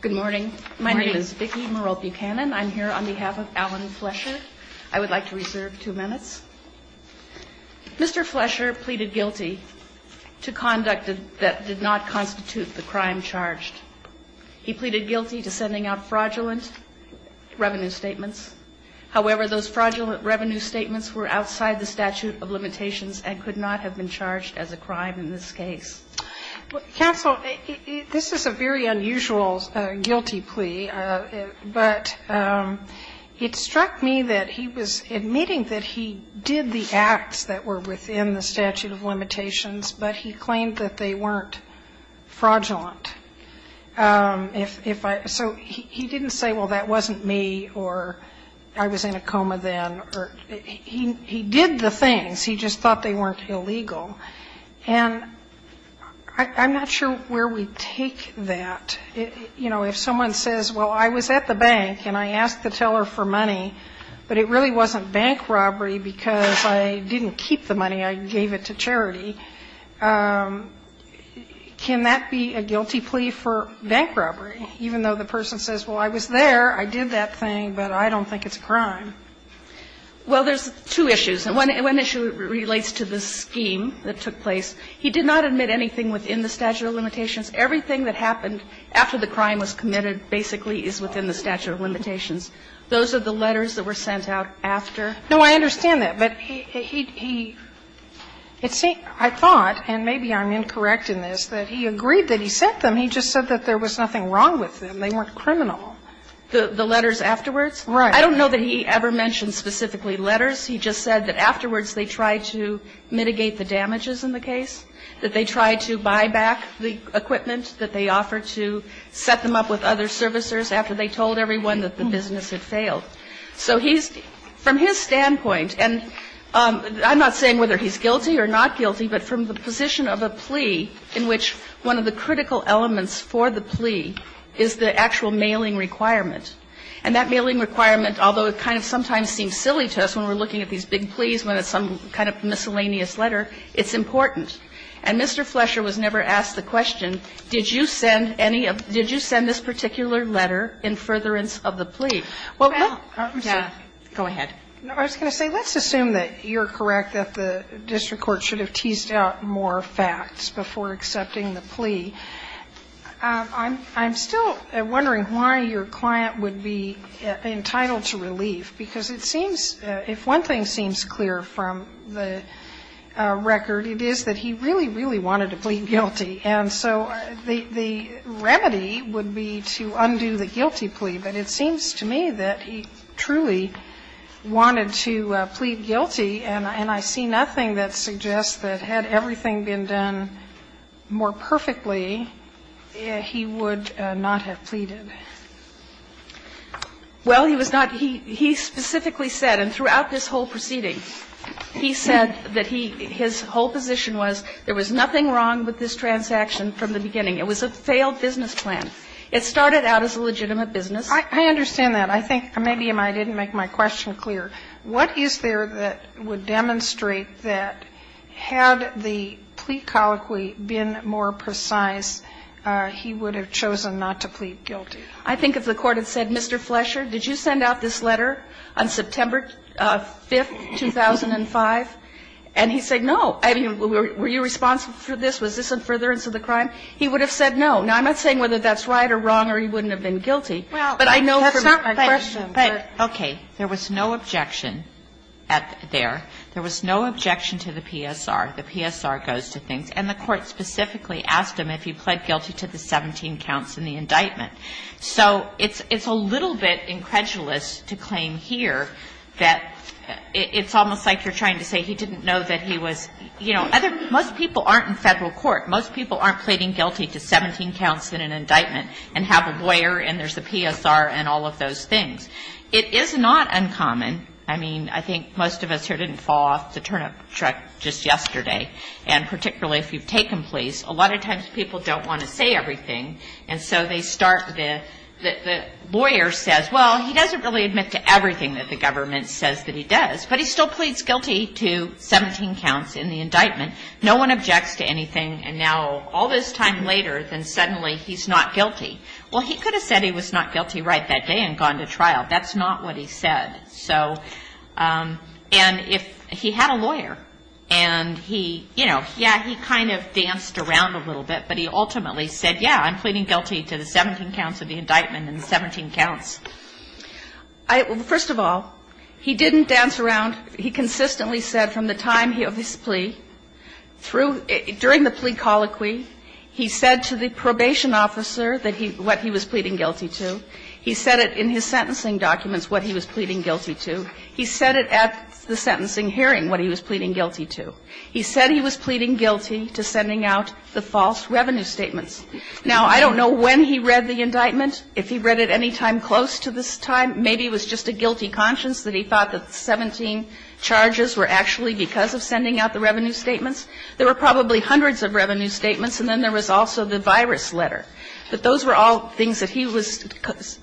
Good morning. My name is Vicki Morope-Cannon. I'm here on behalf of Alan Flesher. I would like to reserve two minutes. Mr. Flesher pleaded guilty to conduct that did not constitute the crime charged. He pleaded guilty to sending out fraudulent revenue statements. However, those fraudulent revenue statements were outside the statute of limitations and could not have been charged as a crime in this case. Counsel, this is a very unusual guilty plea, but it struck me that he was admitting that he did the acts that were within the statute of limitations, but he claimed that they weren't fraudulent. So he didn't say, well, that wasn't me, or I was in a coma then. He did the things, he just thought they weren't illegal. And I'm not sure where we take that. You know, if someone says, well, I was at the bank and I asked the teller for money, but it really wasn't bank robbery because I didn't keep the money, I gave it to charity, can that be a guilty plea? That's a guilty plea for bank robbery, even though the person says, well, I was there, I did that thing, but I don't think it's a crime. Well, there's two issues, and one issue relates to the scheme that took place. He did not admit anything within the statute of limitations. Everything that happened after the crime was committed basically is within the statute of limitations. Those are the letters that were sent out after. No, I understand that, but he, it seems, I thought, and maybe I'm incorrect in this, that he agreed that he sent them. He just said that there was nothing wrong with them, they weren't criminal. The letters afterwards? Right. I don't know that he ever mentioned specifically letters. He just said that afterwards they tried to mitigate the damages in the case, that they tried to buy back the equipment that they offered to set them up with other servicers after they told everyone that the business had failed. So he's, from his standpoint, and I'm not saying whether he's guilty or not guilty, but from the position of a plea in which one of the critical elements for the plea is the actual mailing requirement. And that mailing requirement, although it kind of sometimes seems silly to us when we're looking at these big pleas when it's some kind of miscellaneous letter, it's important. And Mr. Flesher was never asked the question, did you send any of, did you send this particular letter in furtherance of the plea? Well, let's assume that you're correct that the district court should have teased out more facts before accepting the plea. I'm still wondering why your client would be entitled to relief, because it seems that if one thing seems clear from the record, it is that he really, really wanted to plead guilty. And so the remedy would be to undo the guilty plea, but it seems to me that he truly wanted to plead guilty, and I see nothing that suggests that had everything been done more perfectly, he would not have pleaded. Well, he was not. He specifically said, and throughout this whole proceeding, he said that he, his whole transaction from the beginning, it was a failed business plan. It started out as a legitimate business. I understand that. I think, maybe I didn't make my question clear. What is there that would demonstrate that had the plea colloquy been more precise, he would have chosen not to plead guilty? I think if the Court had said, Mr. Flesher, did you send out this letter on September 5th, 2005, and he said, no, I mean, were you responsible for this, was this in furtherance of the crime, he would have said no. Now, I'm not saying whether that's right or wrong or he wouldn't have been guilty. But I know from my question that there was no objection there. There was no objection to the PSR. The PSR goes to things. And the Court specifically asked him if he pled guilty to the 17 counts in the indictment. So it's a little bit incredulous to claim here that it's almost like you're trying to say he didn't know that he was, you know, most people aren't in Federal court. Most people aren't pleading guilty to 17 counts in an indictment and have a lawyer and there's a PSR and all of those things. It is not uncommon. I mean, I think most of us here didn't fall off the turnip truck just yesterday. And particularly if you've taken pleas, a lot of times people don't want to say everything. And so they start with the lawyer says, well, he doesn't really admit to everything that the government says that he does. But he still pleads guilty to 17 counts in the indictment. No one objects to anything. And now all this time later, then suddenly he's not guilty. Well, he could have said he was not guilty right that day and gone to trial. That's not what he said. So, and if he had a lawyer and he, you know, yeah, he kind of danced around a little bit, but he ultimately said, yeah, I'm pleading guilty to the 17 counts of the indictment and the 17 counts. First of all, he didn't dance around. He consistently said from the time of his plea, through, during the plea colloquy, he said to the probation officer that he, what he was pleading guilty to. He said it in his sentencing documents what he was pleading guilty to. He said it at the sentencing hearing what he was pleading guilty to. He said he was pleading guilty to sending out the false revenue statements. Now, I don't know when he read the indictment, if he read it any time close to this time, maybe it was just a guilty conscience that he thought the 17 charges were actually because of sending out the revenue statements. There were probably hundreds of revenue statements, and then there was also the virus letter. But those were all things that he was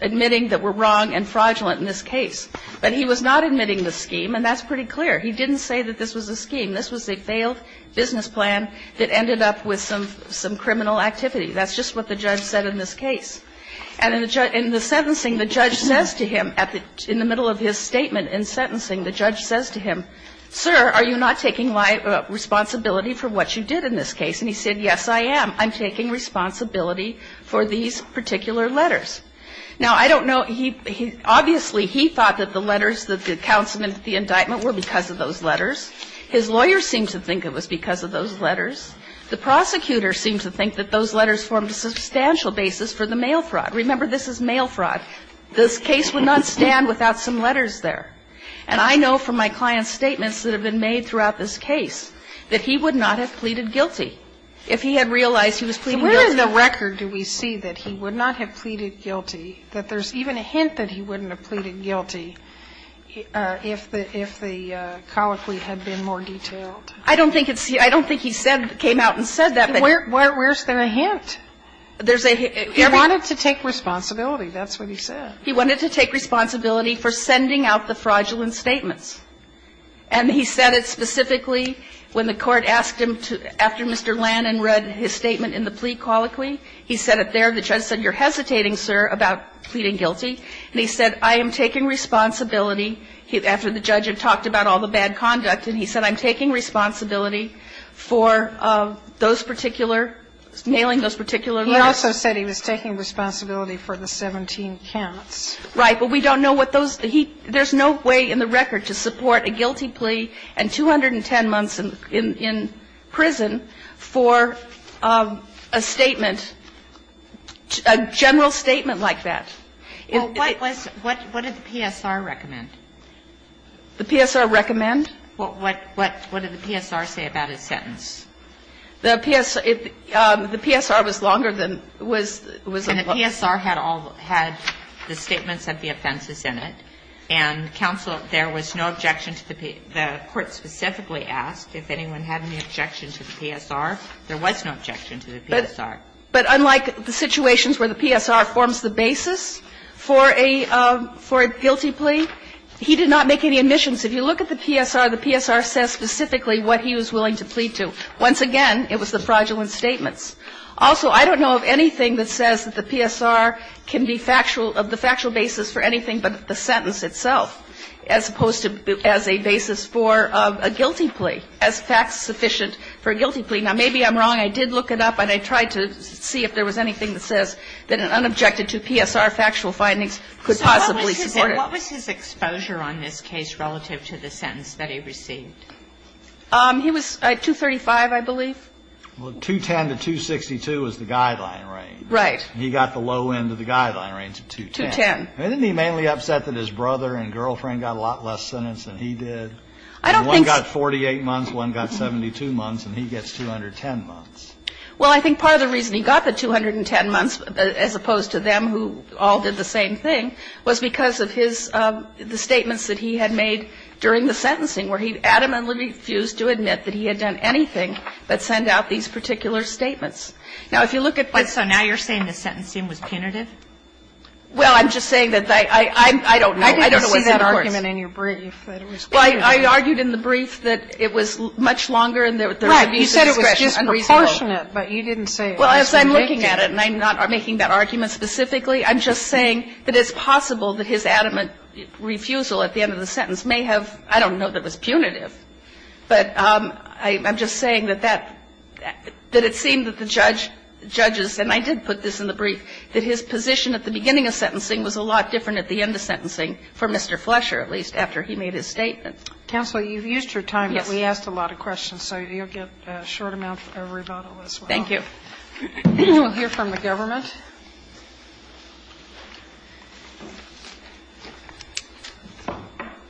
admitting that were wrong and fraudulent in this case. But he was not admitting the scheme, and that's pretty clear. He didn't say that this was a scheme. This was a failed business plan that ended up with some criminal activity. That's just what the judge said in this case. And in the sentencing, the judge says to him, in the middle of his statement in sentencing, the judge says to him, sir, are you not taking responsibility for what you did in this case? And he said, yes, I am. I'm taking responsibility for these particular letters. Now, I don't know. He obviously, he thought that the letters that the counsel in the indictment were because of those letters. His lawyer seemed to think it was because of those letters. The prosecutor seemed to think that those letters formed a substantial basis for the mail fraud. Remember, this is mail fraud. This case would not stand without some letters there. And I know from my client's statements that have been made throughout this case that he would not have pleaded guilty if he had realized he was pleading guilty. Sotomayor, where in the record do we see that he would not have pleaded guilty, that there's even a hint that he wouldn't have pleaded guilty if the colloquy had been more detailed? I don't think it's here. I don't think he said, came out and said that. But where's the hint? There's a hint. He wanted to take responsibility. That's what he said. He wanted to take responsibility for sending out the fraudulent statements. And he said it specifically when the Court asked him to, after Mr. Lannon read his statement in the plea colloquy, he said it there. The judge said, you're hesitating, sir, about pleading guilty. And he said, I am taking responsibility, after the judge had talked about all the bad conduct, and he said, I'm taking responsibility for those particular nailing those particular letters. He also said he was taking responsibility for the 17 counts. Right. But we don't know what those he – there's no way in the record to support a guilty plea and 210 months in prison for a statement, a general statement like that. Well, what was – what did the PSR recommend? The PSR recommend? What did the PSR say about his sentence? The PSR was longer than – was a little – And the PSR had all – had the statements of the offenses in it, and counsel – there was no objection to the – the Court specifically asked if anyone had any objection to the PSR. There was no objection to the PSR. But unlike the situations where the PSR forms the basis for a – for a guilty plea, he did not make any admissions. If you look at the PSR, the PSR says specifically what he was willing to plead to. Once again, it was the fraudulent statements. Also, I don't know of anything that says that the PSR can be factual – of the factual basis for anything but the sentence itself, as opposed to as a basis for a guilty plea, as fact-sufficient for a guilty plea. Now, maybe I'm wrong. I did look it up, and I tried to see if there was anything that says that an unobjected to PSR factual findings could possibly support it. What was his exposure on this case relative to the sentence that he received? He was 235, I believe. Well, 210 to 262 is the guideline range. Right. He got the low end of the guideline range of 210. 210. And isn't he mainly upset that his brother and girlfriend got a lot less sentence than he did? I don't think so. One got 48 months, one got 72 months, and he gets 210 months. Well, I think part of the reason he got the 210 months, as opposed to them who all did the same thing, was because of his – the statements that he had made during the sentencing, where he adamantly refused to admit that he had done anything but send out these particular statements. Now, if you look at the – But so now you're saying the sentencing was punitive? Well, I'm just saying that I don't know. I don't know what the court's – I didn't see that argument in your brief that it was punitive. Well, I argued in the brief that it was much longer and there was abuse of discretion unreasonable. Right. You said it was disproportionate, but you didn't say it was convicted. Well, as I'm looking at it, and I'm not making that argument specifically, I'm just saying that it's possible that his adamant refusal at the end of the sentence may have – I don't know that it was punitive. But I'm just saying that that – that it seemed that the judge – judges, and I did put this in the brief, that his position at the beginning of sentencing was a lot different at the end of sentencing for Mr. Flesher, at least, after he made his statement. Counsel, you've used your time, but we asked a lot of questions, so you'll get a short amount of rebuttal as well. Thank you. We'll hear from the government.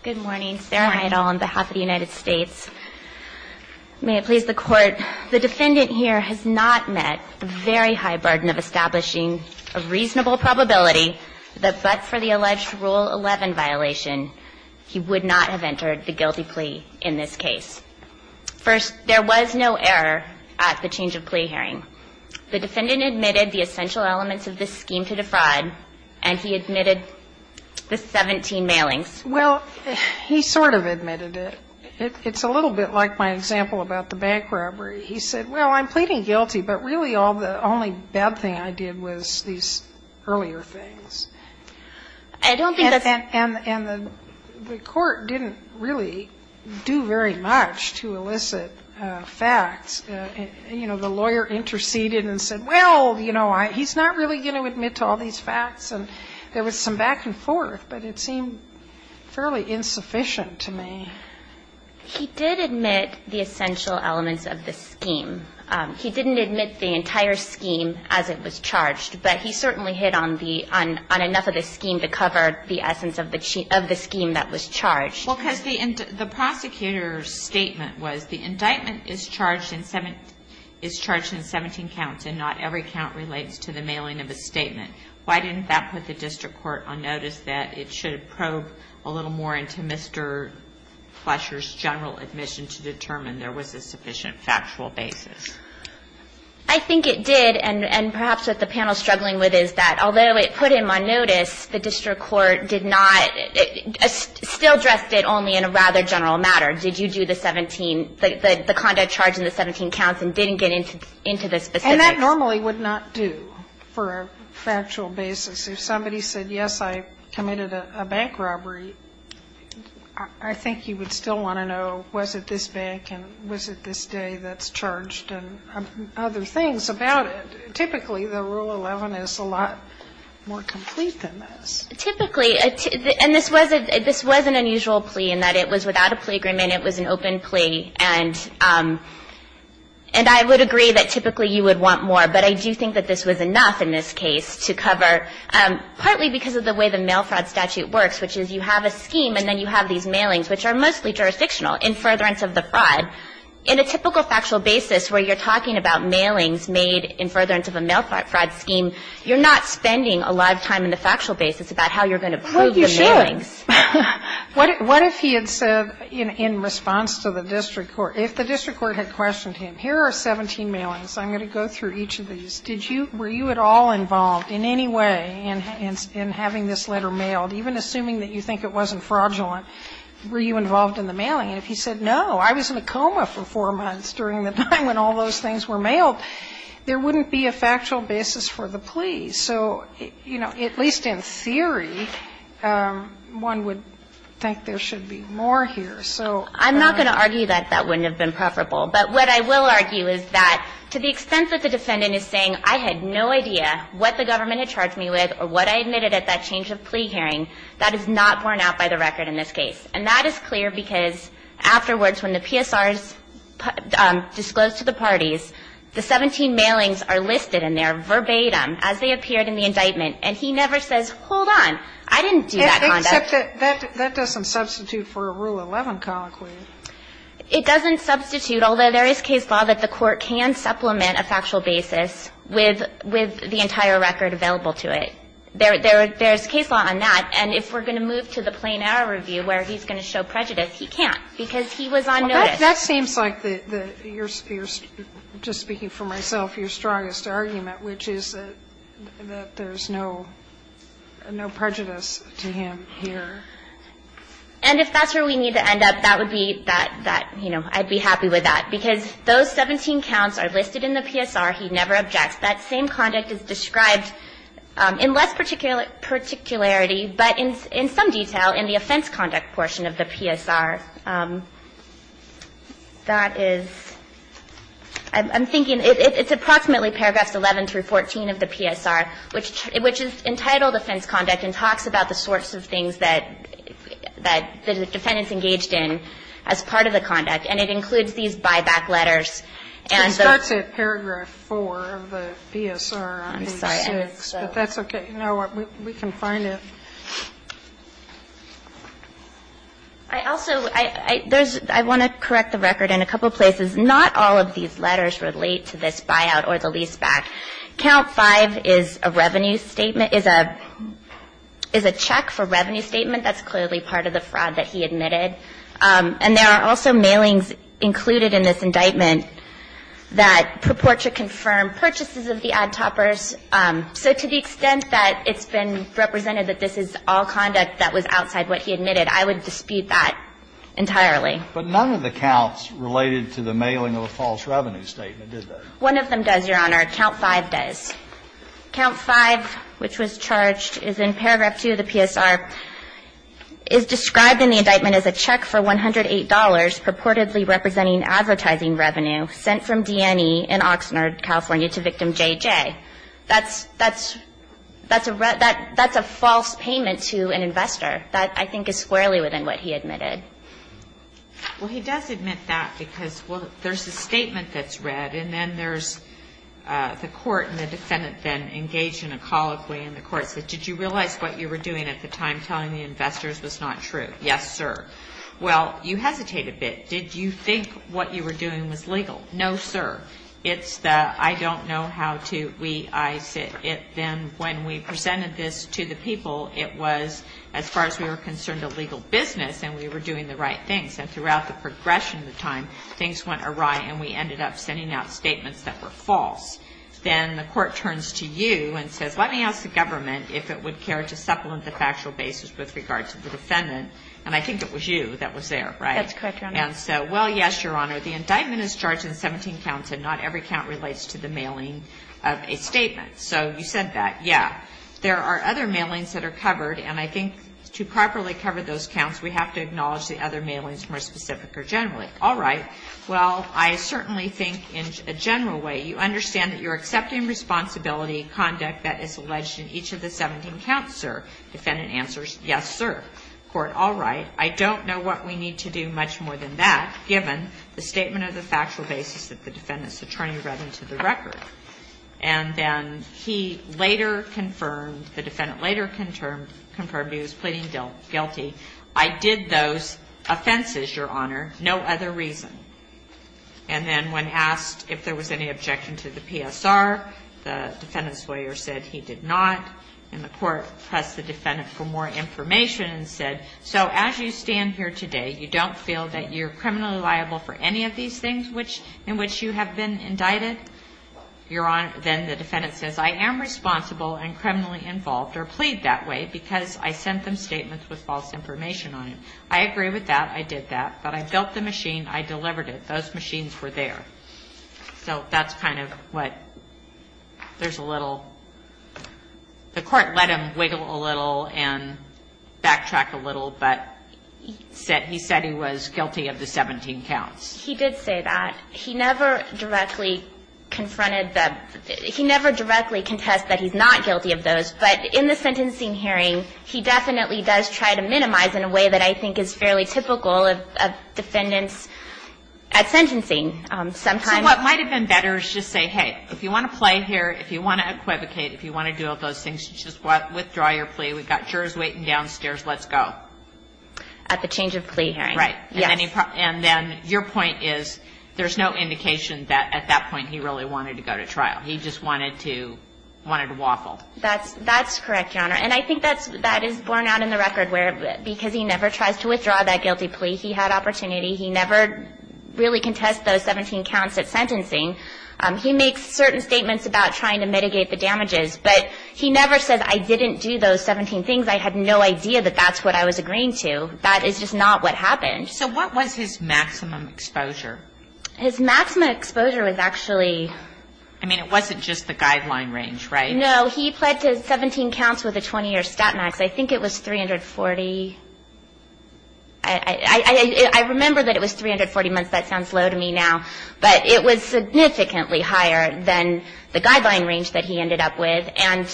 Good morning. Sarah Heidel on behalf of the United States. May it please the Court. The defendant here has not met a very high burden of establishing a reasonable probability that but for the alleged Rule 11 violation, he would not have entered the guilty plea in this case. First, there was no error at the change of plea hearing. The defendant admitted the essential elements of this scheme to defraud, and he admitted the 17 mailings. Well, he sort of admitted it. It's a little bit like my example about the bank robbery. He said, well, I'm pleading guilty, but really all the – only bad thing I did was these earlier things. I don't think that's and the court didn't really do very much to elicit facts. You know, the lawyer interceded and said, well, you know, he's not really going to admit to all these facts, and there was some back and forth, but it seemed fairly insufficient to me. He did admit the essential elements of the scheme. He didn't admit the entire scheme as it was charged, but he certainly hit on the – on enough of the scheme to cover the essence of the scheme that was charged. Well, because the prosecutor's statement was the indictment is charged in 17 counts and not every count relates to the mailing of a statement. Why didn't that put the district court on notice that it should probe a little more into Mr. Flesher's general admission to determine there was a sufficient factual basis? I think it did, and perhaps what the panel is struggling with is that although it put him on notice, the district court did not – still addressed it only in a rather general matter. Did you do the 17, the conduct charge in the 17 counts and didn't get into the specifics? And that normally would not do for a factual basis. If somebody said, yes, I committed a bank robbery, I think you would still want to know, was it this bank and was it this day that's charged and other things about it. Typically, the Rule 11 is a lot more complete than this. Typically, and this was an unusual plea in that it was without a plea agreement. It was an open plea, and I would agree that typically you would want more, but I do think that this was enough in this case to cover, partly because of the way the mail fraud statute works, which is you have a scheme and then you have these mailings, which are mostly jurisdictional, in furtherance of the fraud. In a typical factual basis where you're talking about mailings made in furtherance of a mail fraud scheme, you're not spending a lot of time in the factual basis about how you're going to prove your mailings. Sotomayor What if he had said in response to the district court, if the district court had questioned him, here are 17 mailings, I'm going to go through each of these, did you – were you at all involved in any way in having this letter mailed, even assuming that you think it wasn't fraudulent, were you involved in the mailing? And if he said, no, I was in a coma for four months during the time when all those things were mailed, there wouldn't be a factual basis for the plea. So, you know, at least in theory, one would think there should be more here. So I'm not going to argue that that wouldn't have been preferable, but what I will argue is that to the extent that the defendant is saying I had no idea what the government had charged me with or what I admitted at that change of plea hearing, that is not borne out by the record in this case. And that is clear because afterwards when the PSRs disclose to the parties, the 17 mailings are listed in there verbatim as they appeared in the indictment, and he never says, hold on, I didn't do that conduct. Sotomayor Except that doesn't substitute for a Rule 11 conclusion. Sherry It doesn't substitute, although there is case law that the court can supplement a factual basis with the entire record available to it. There is case law on that. And if we're going to move to the plain error review where he's going to show prejudice, he can't, because he was on notice. Sotomayor That seems like the, just speaking for myself, your strongest argument, which is that there's no prejudice to him here. Sherry And if that's where we need to end up, that would be that, you know, I'd be happy with that, because those 17 counts are listed in the PSR, he never objects. That same conduct is described in less particularity, but in some detail in the offense conduct portion of the PSR. That is, I'm thinking it's approximately paragraphs 11 through 14 of the PSR, which is entitled offense conduct and talks about the sorts of things that the defendants engaged in as part of the conduct, and it includes these buyback letters. And the ---- Sotomayor It's got to paragraph 4 of the PSR, I believe. Sherry I'm sorry. I'm sorry. Sotomayor But that's okay. You know what? We can find it. Sherry I also, I want to correct the record in a couple of places. Not all of these letters relate to this buyout or the leaseback. Count 5 is a revenue statement, is a check for revenue statement. That's clearly part of the fraud that he admitted. And there are also mailings included in this indictment that purport to confirm purchases of the ad toppers. So to the extent that it's been represented that this is all conduct that was outside what he admitted, I would dispute that entirely. Kennedy But none of the counts related to the mailing of a false revenue statement, did they? Sherry One of them does, Your Honor. Count 5 does. Count 5, which was charged, is in paragraph 2 of the PSR, is described in the indictment as a check for $108 purportedly representing advertising revenue sent from DNE in Oxnard, California, to victim JJ. That's a false payment to an investor. That, I think, is squarely within what he admitted. Kagan Well, he does admit that because, well, there's a statement that's read, and then there's the court and the defendant then engaged in a colloquy in the court saying, did you realize what you were doing at the time telling the investors was not true? Yes, sir. Well, you hesitate a bit. Did you think what you were doing was legal? No, sir. It's the, I don't know how to, we, I, it, then when we presented this to the people, it was, as far as we were concerned, a legal business and we were doing the right things. And throughout the progression of the time, things went awry and we ended up sending out statements that were false. Then the court turns to you and says, let me ask the government if it would care to supplement the factual basis with regard to the defendant. And I think it was you that was there, right? That's correct, Your Honor. And so, well, yes, Your Honor. The indictment is charged in 17 counts and not every count relates to the mailing of a statement. So you said that. Yeah. There are other mailings that are covered, and I think to properly cover those counts, we have to acknowledge the other mailings more specific or generally. All right. Well, I certainly think in a general way, you understand that you're accepting responsibility conduct that is alleged in each of the 17 counts, sir. Defendant answers, yes, sir. Court, all right. I don't know what we need to do much more than that, given the statement of the factual basis that the defendant's attorney read into the record. And then he later confirmed, the defendant later confirmed he was pleading guilty. I did those offenses, Your Honor, no other reason. And then when asked if there was any objection to the PSR, the defendant's lawyer said he did not. And the court pressed the defendant for more information and said, so as you stand here today, you don't feel that you're criminally liable for any of these things in which you have been indicted? Your Honor, then the defendant says, I am responsible and criminally involved or plead that way because I sent them statements with false information on it. I agree with that. I did that. But I built the machine. I delivered it. Those machines were there. So that's kind of what there's a little. The court let him wiggle a little and backtrack a little, but he said he was guilty of the 17 counts. He did say that. He never directly confronted the he never directly contested that he's not guilty of those. But in the sentencing hearing, he definitely does try to minimize in a way that I might have been better to just say, hey, if you want to play here, if you want to equivocate, if you want to do all those things, just withdraw your plea. We've got jurors waiting downstairs. Let's go. At the change of plea hearing. Right. And then your point is there's no indication that at that point he really wanted to go to trial. He just wanted to waffle. That's correct, Your Honor. And I think that is borne out in the record where because he never tries to withdraw that guilty plea, he had opportunity to go to trial. He had opportunity. He never really contested those 17 counts at sentencing. He makes certain statements about trying to mitigate the damages. But he never says I didn't do those 17 things. I had no idea that that's what I was agreeing to. That is just not what happened. So what was his maximum exposure? His maximum exposure was actually. I mean, it wasn't just the guideline range, right? No. He pled to 17 counts with a 20-year stat max. I think it was 340. I remember that it was 340 months. That sounds low to me now. But it was significantly higher than the guideline range that he ended up with. And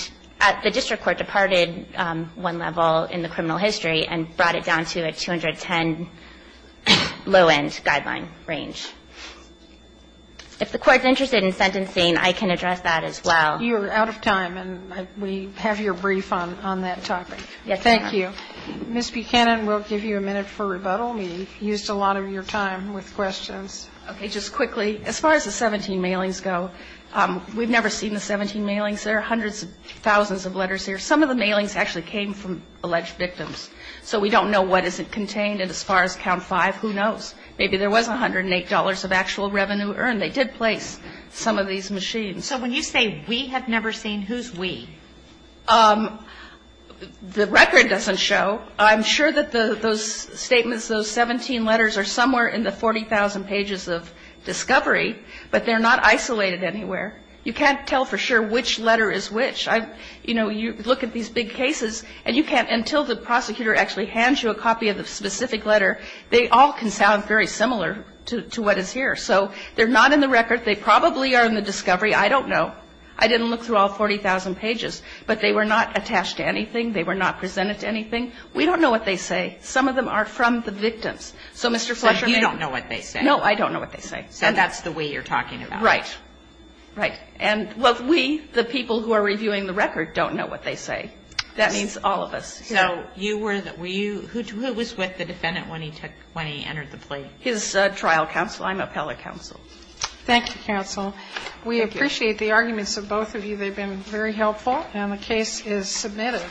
the district court departed one level in the criminal history and brought it down to a 210 low-end guideline range. If the Court's interested in sentencing, I can address that as well. You're out of time, and we have your brief on that topic. Yes, Your Honor. Thank you. Ms. Buchanan, we'll give you a minute for rebuttal. We used a lot of your time with questions. Okay. Just quickly, as far as the 17 mailings go, we've never seen the 17 mailings. There are hundreds of thousands of letters here. Some of the mailings actually came from alleged victims. So we don't know what is contained. And as far as count 5, who knows? Maybe there was $108 of actual revenue earned. They did place some of these machines. So when you say we have never seen, who's we? The record doesn't show. I'm sure that those statements, those 17 letters, are somewhere in the 40,000 pages of discovery, but they're not isolated anywhere. You can't tell for sure which letter is which. You know, you look at these big cases, and you can't until the prosecutor actually hands you a copy of the specific letter. They all can sound very similar to what is here. So they're not in the record. They probably are in the discovery. I don't know. I didn't look through all 40,000 pages. But they were not attached to anything. They were not presented to anything. We don't know what they say. Some of them are from the victims. So, Mr. Fletcher, may I? So you don't know what they say? No, I don't know what they say. So that's the we you're talking about. Right. Right. And, well, we, the people who are reviewing the record, don't know what they say. That means all of us. So you were the – were you – who was with the defendant when he took – when he entered the plate? His trial counsel. I'm appellate counsel. Thank you, counsel. Thank you. I appreciate the arguments of both of you. They've been very helpful. And the case is submitted.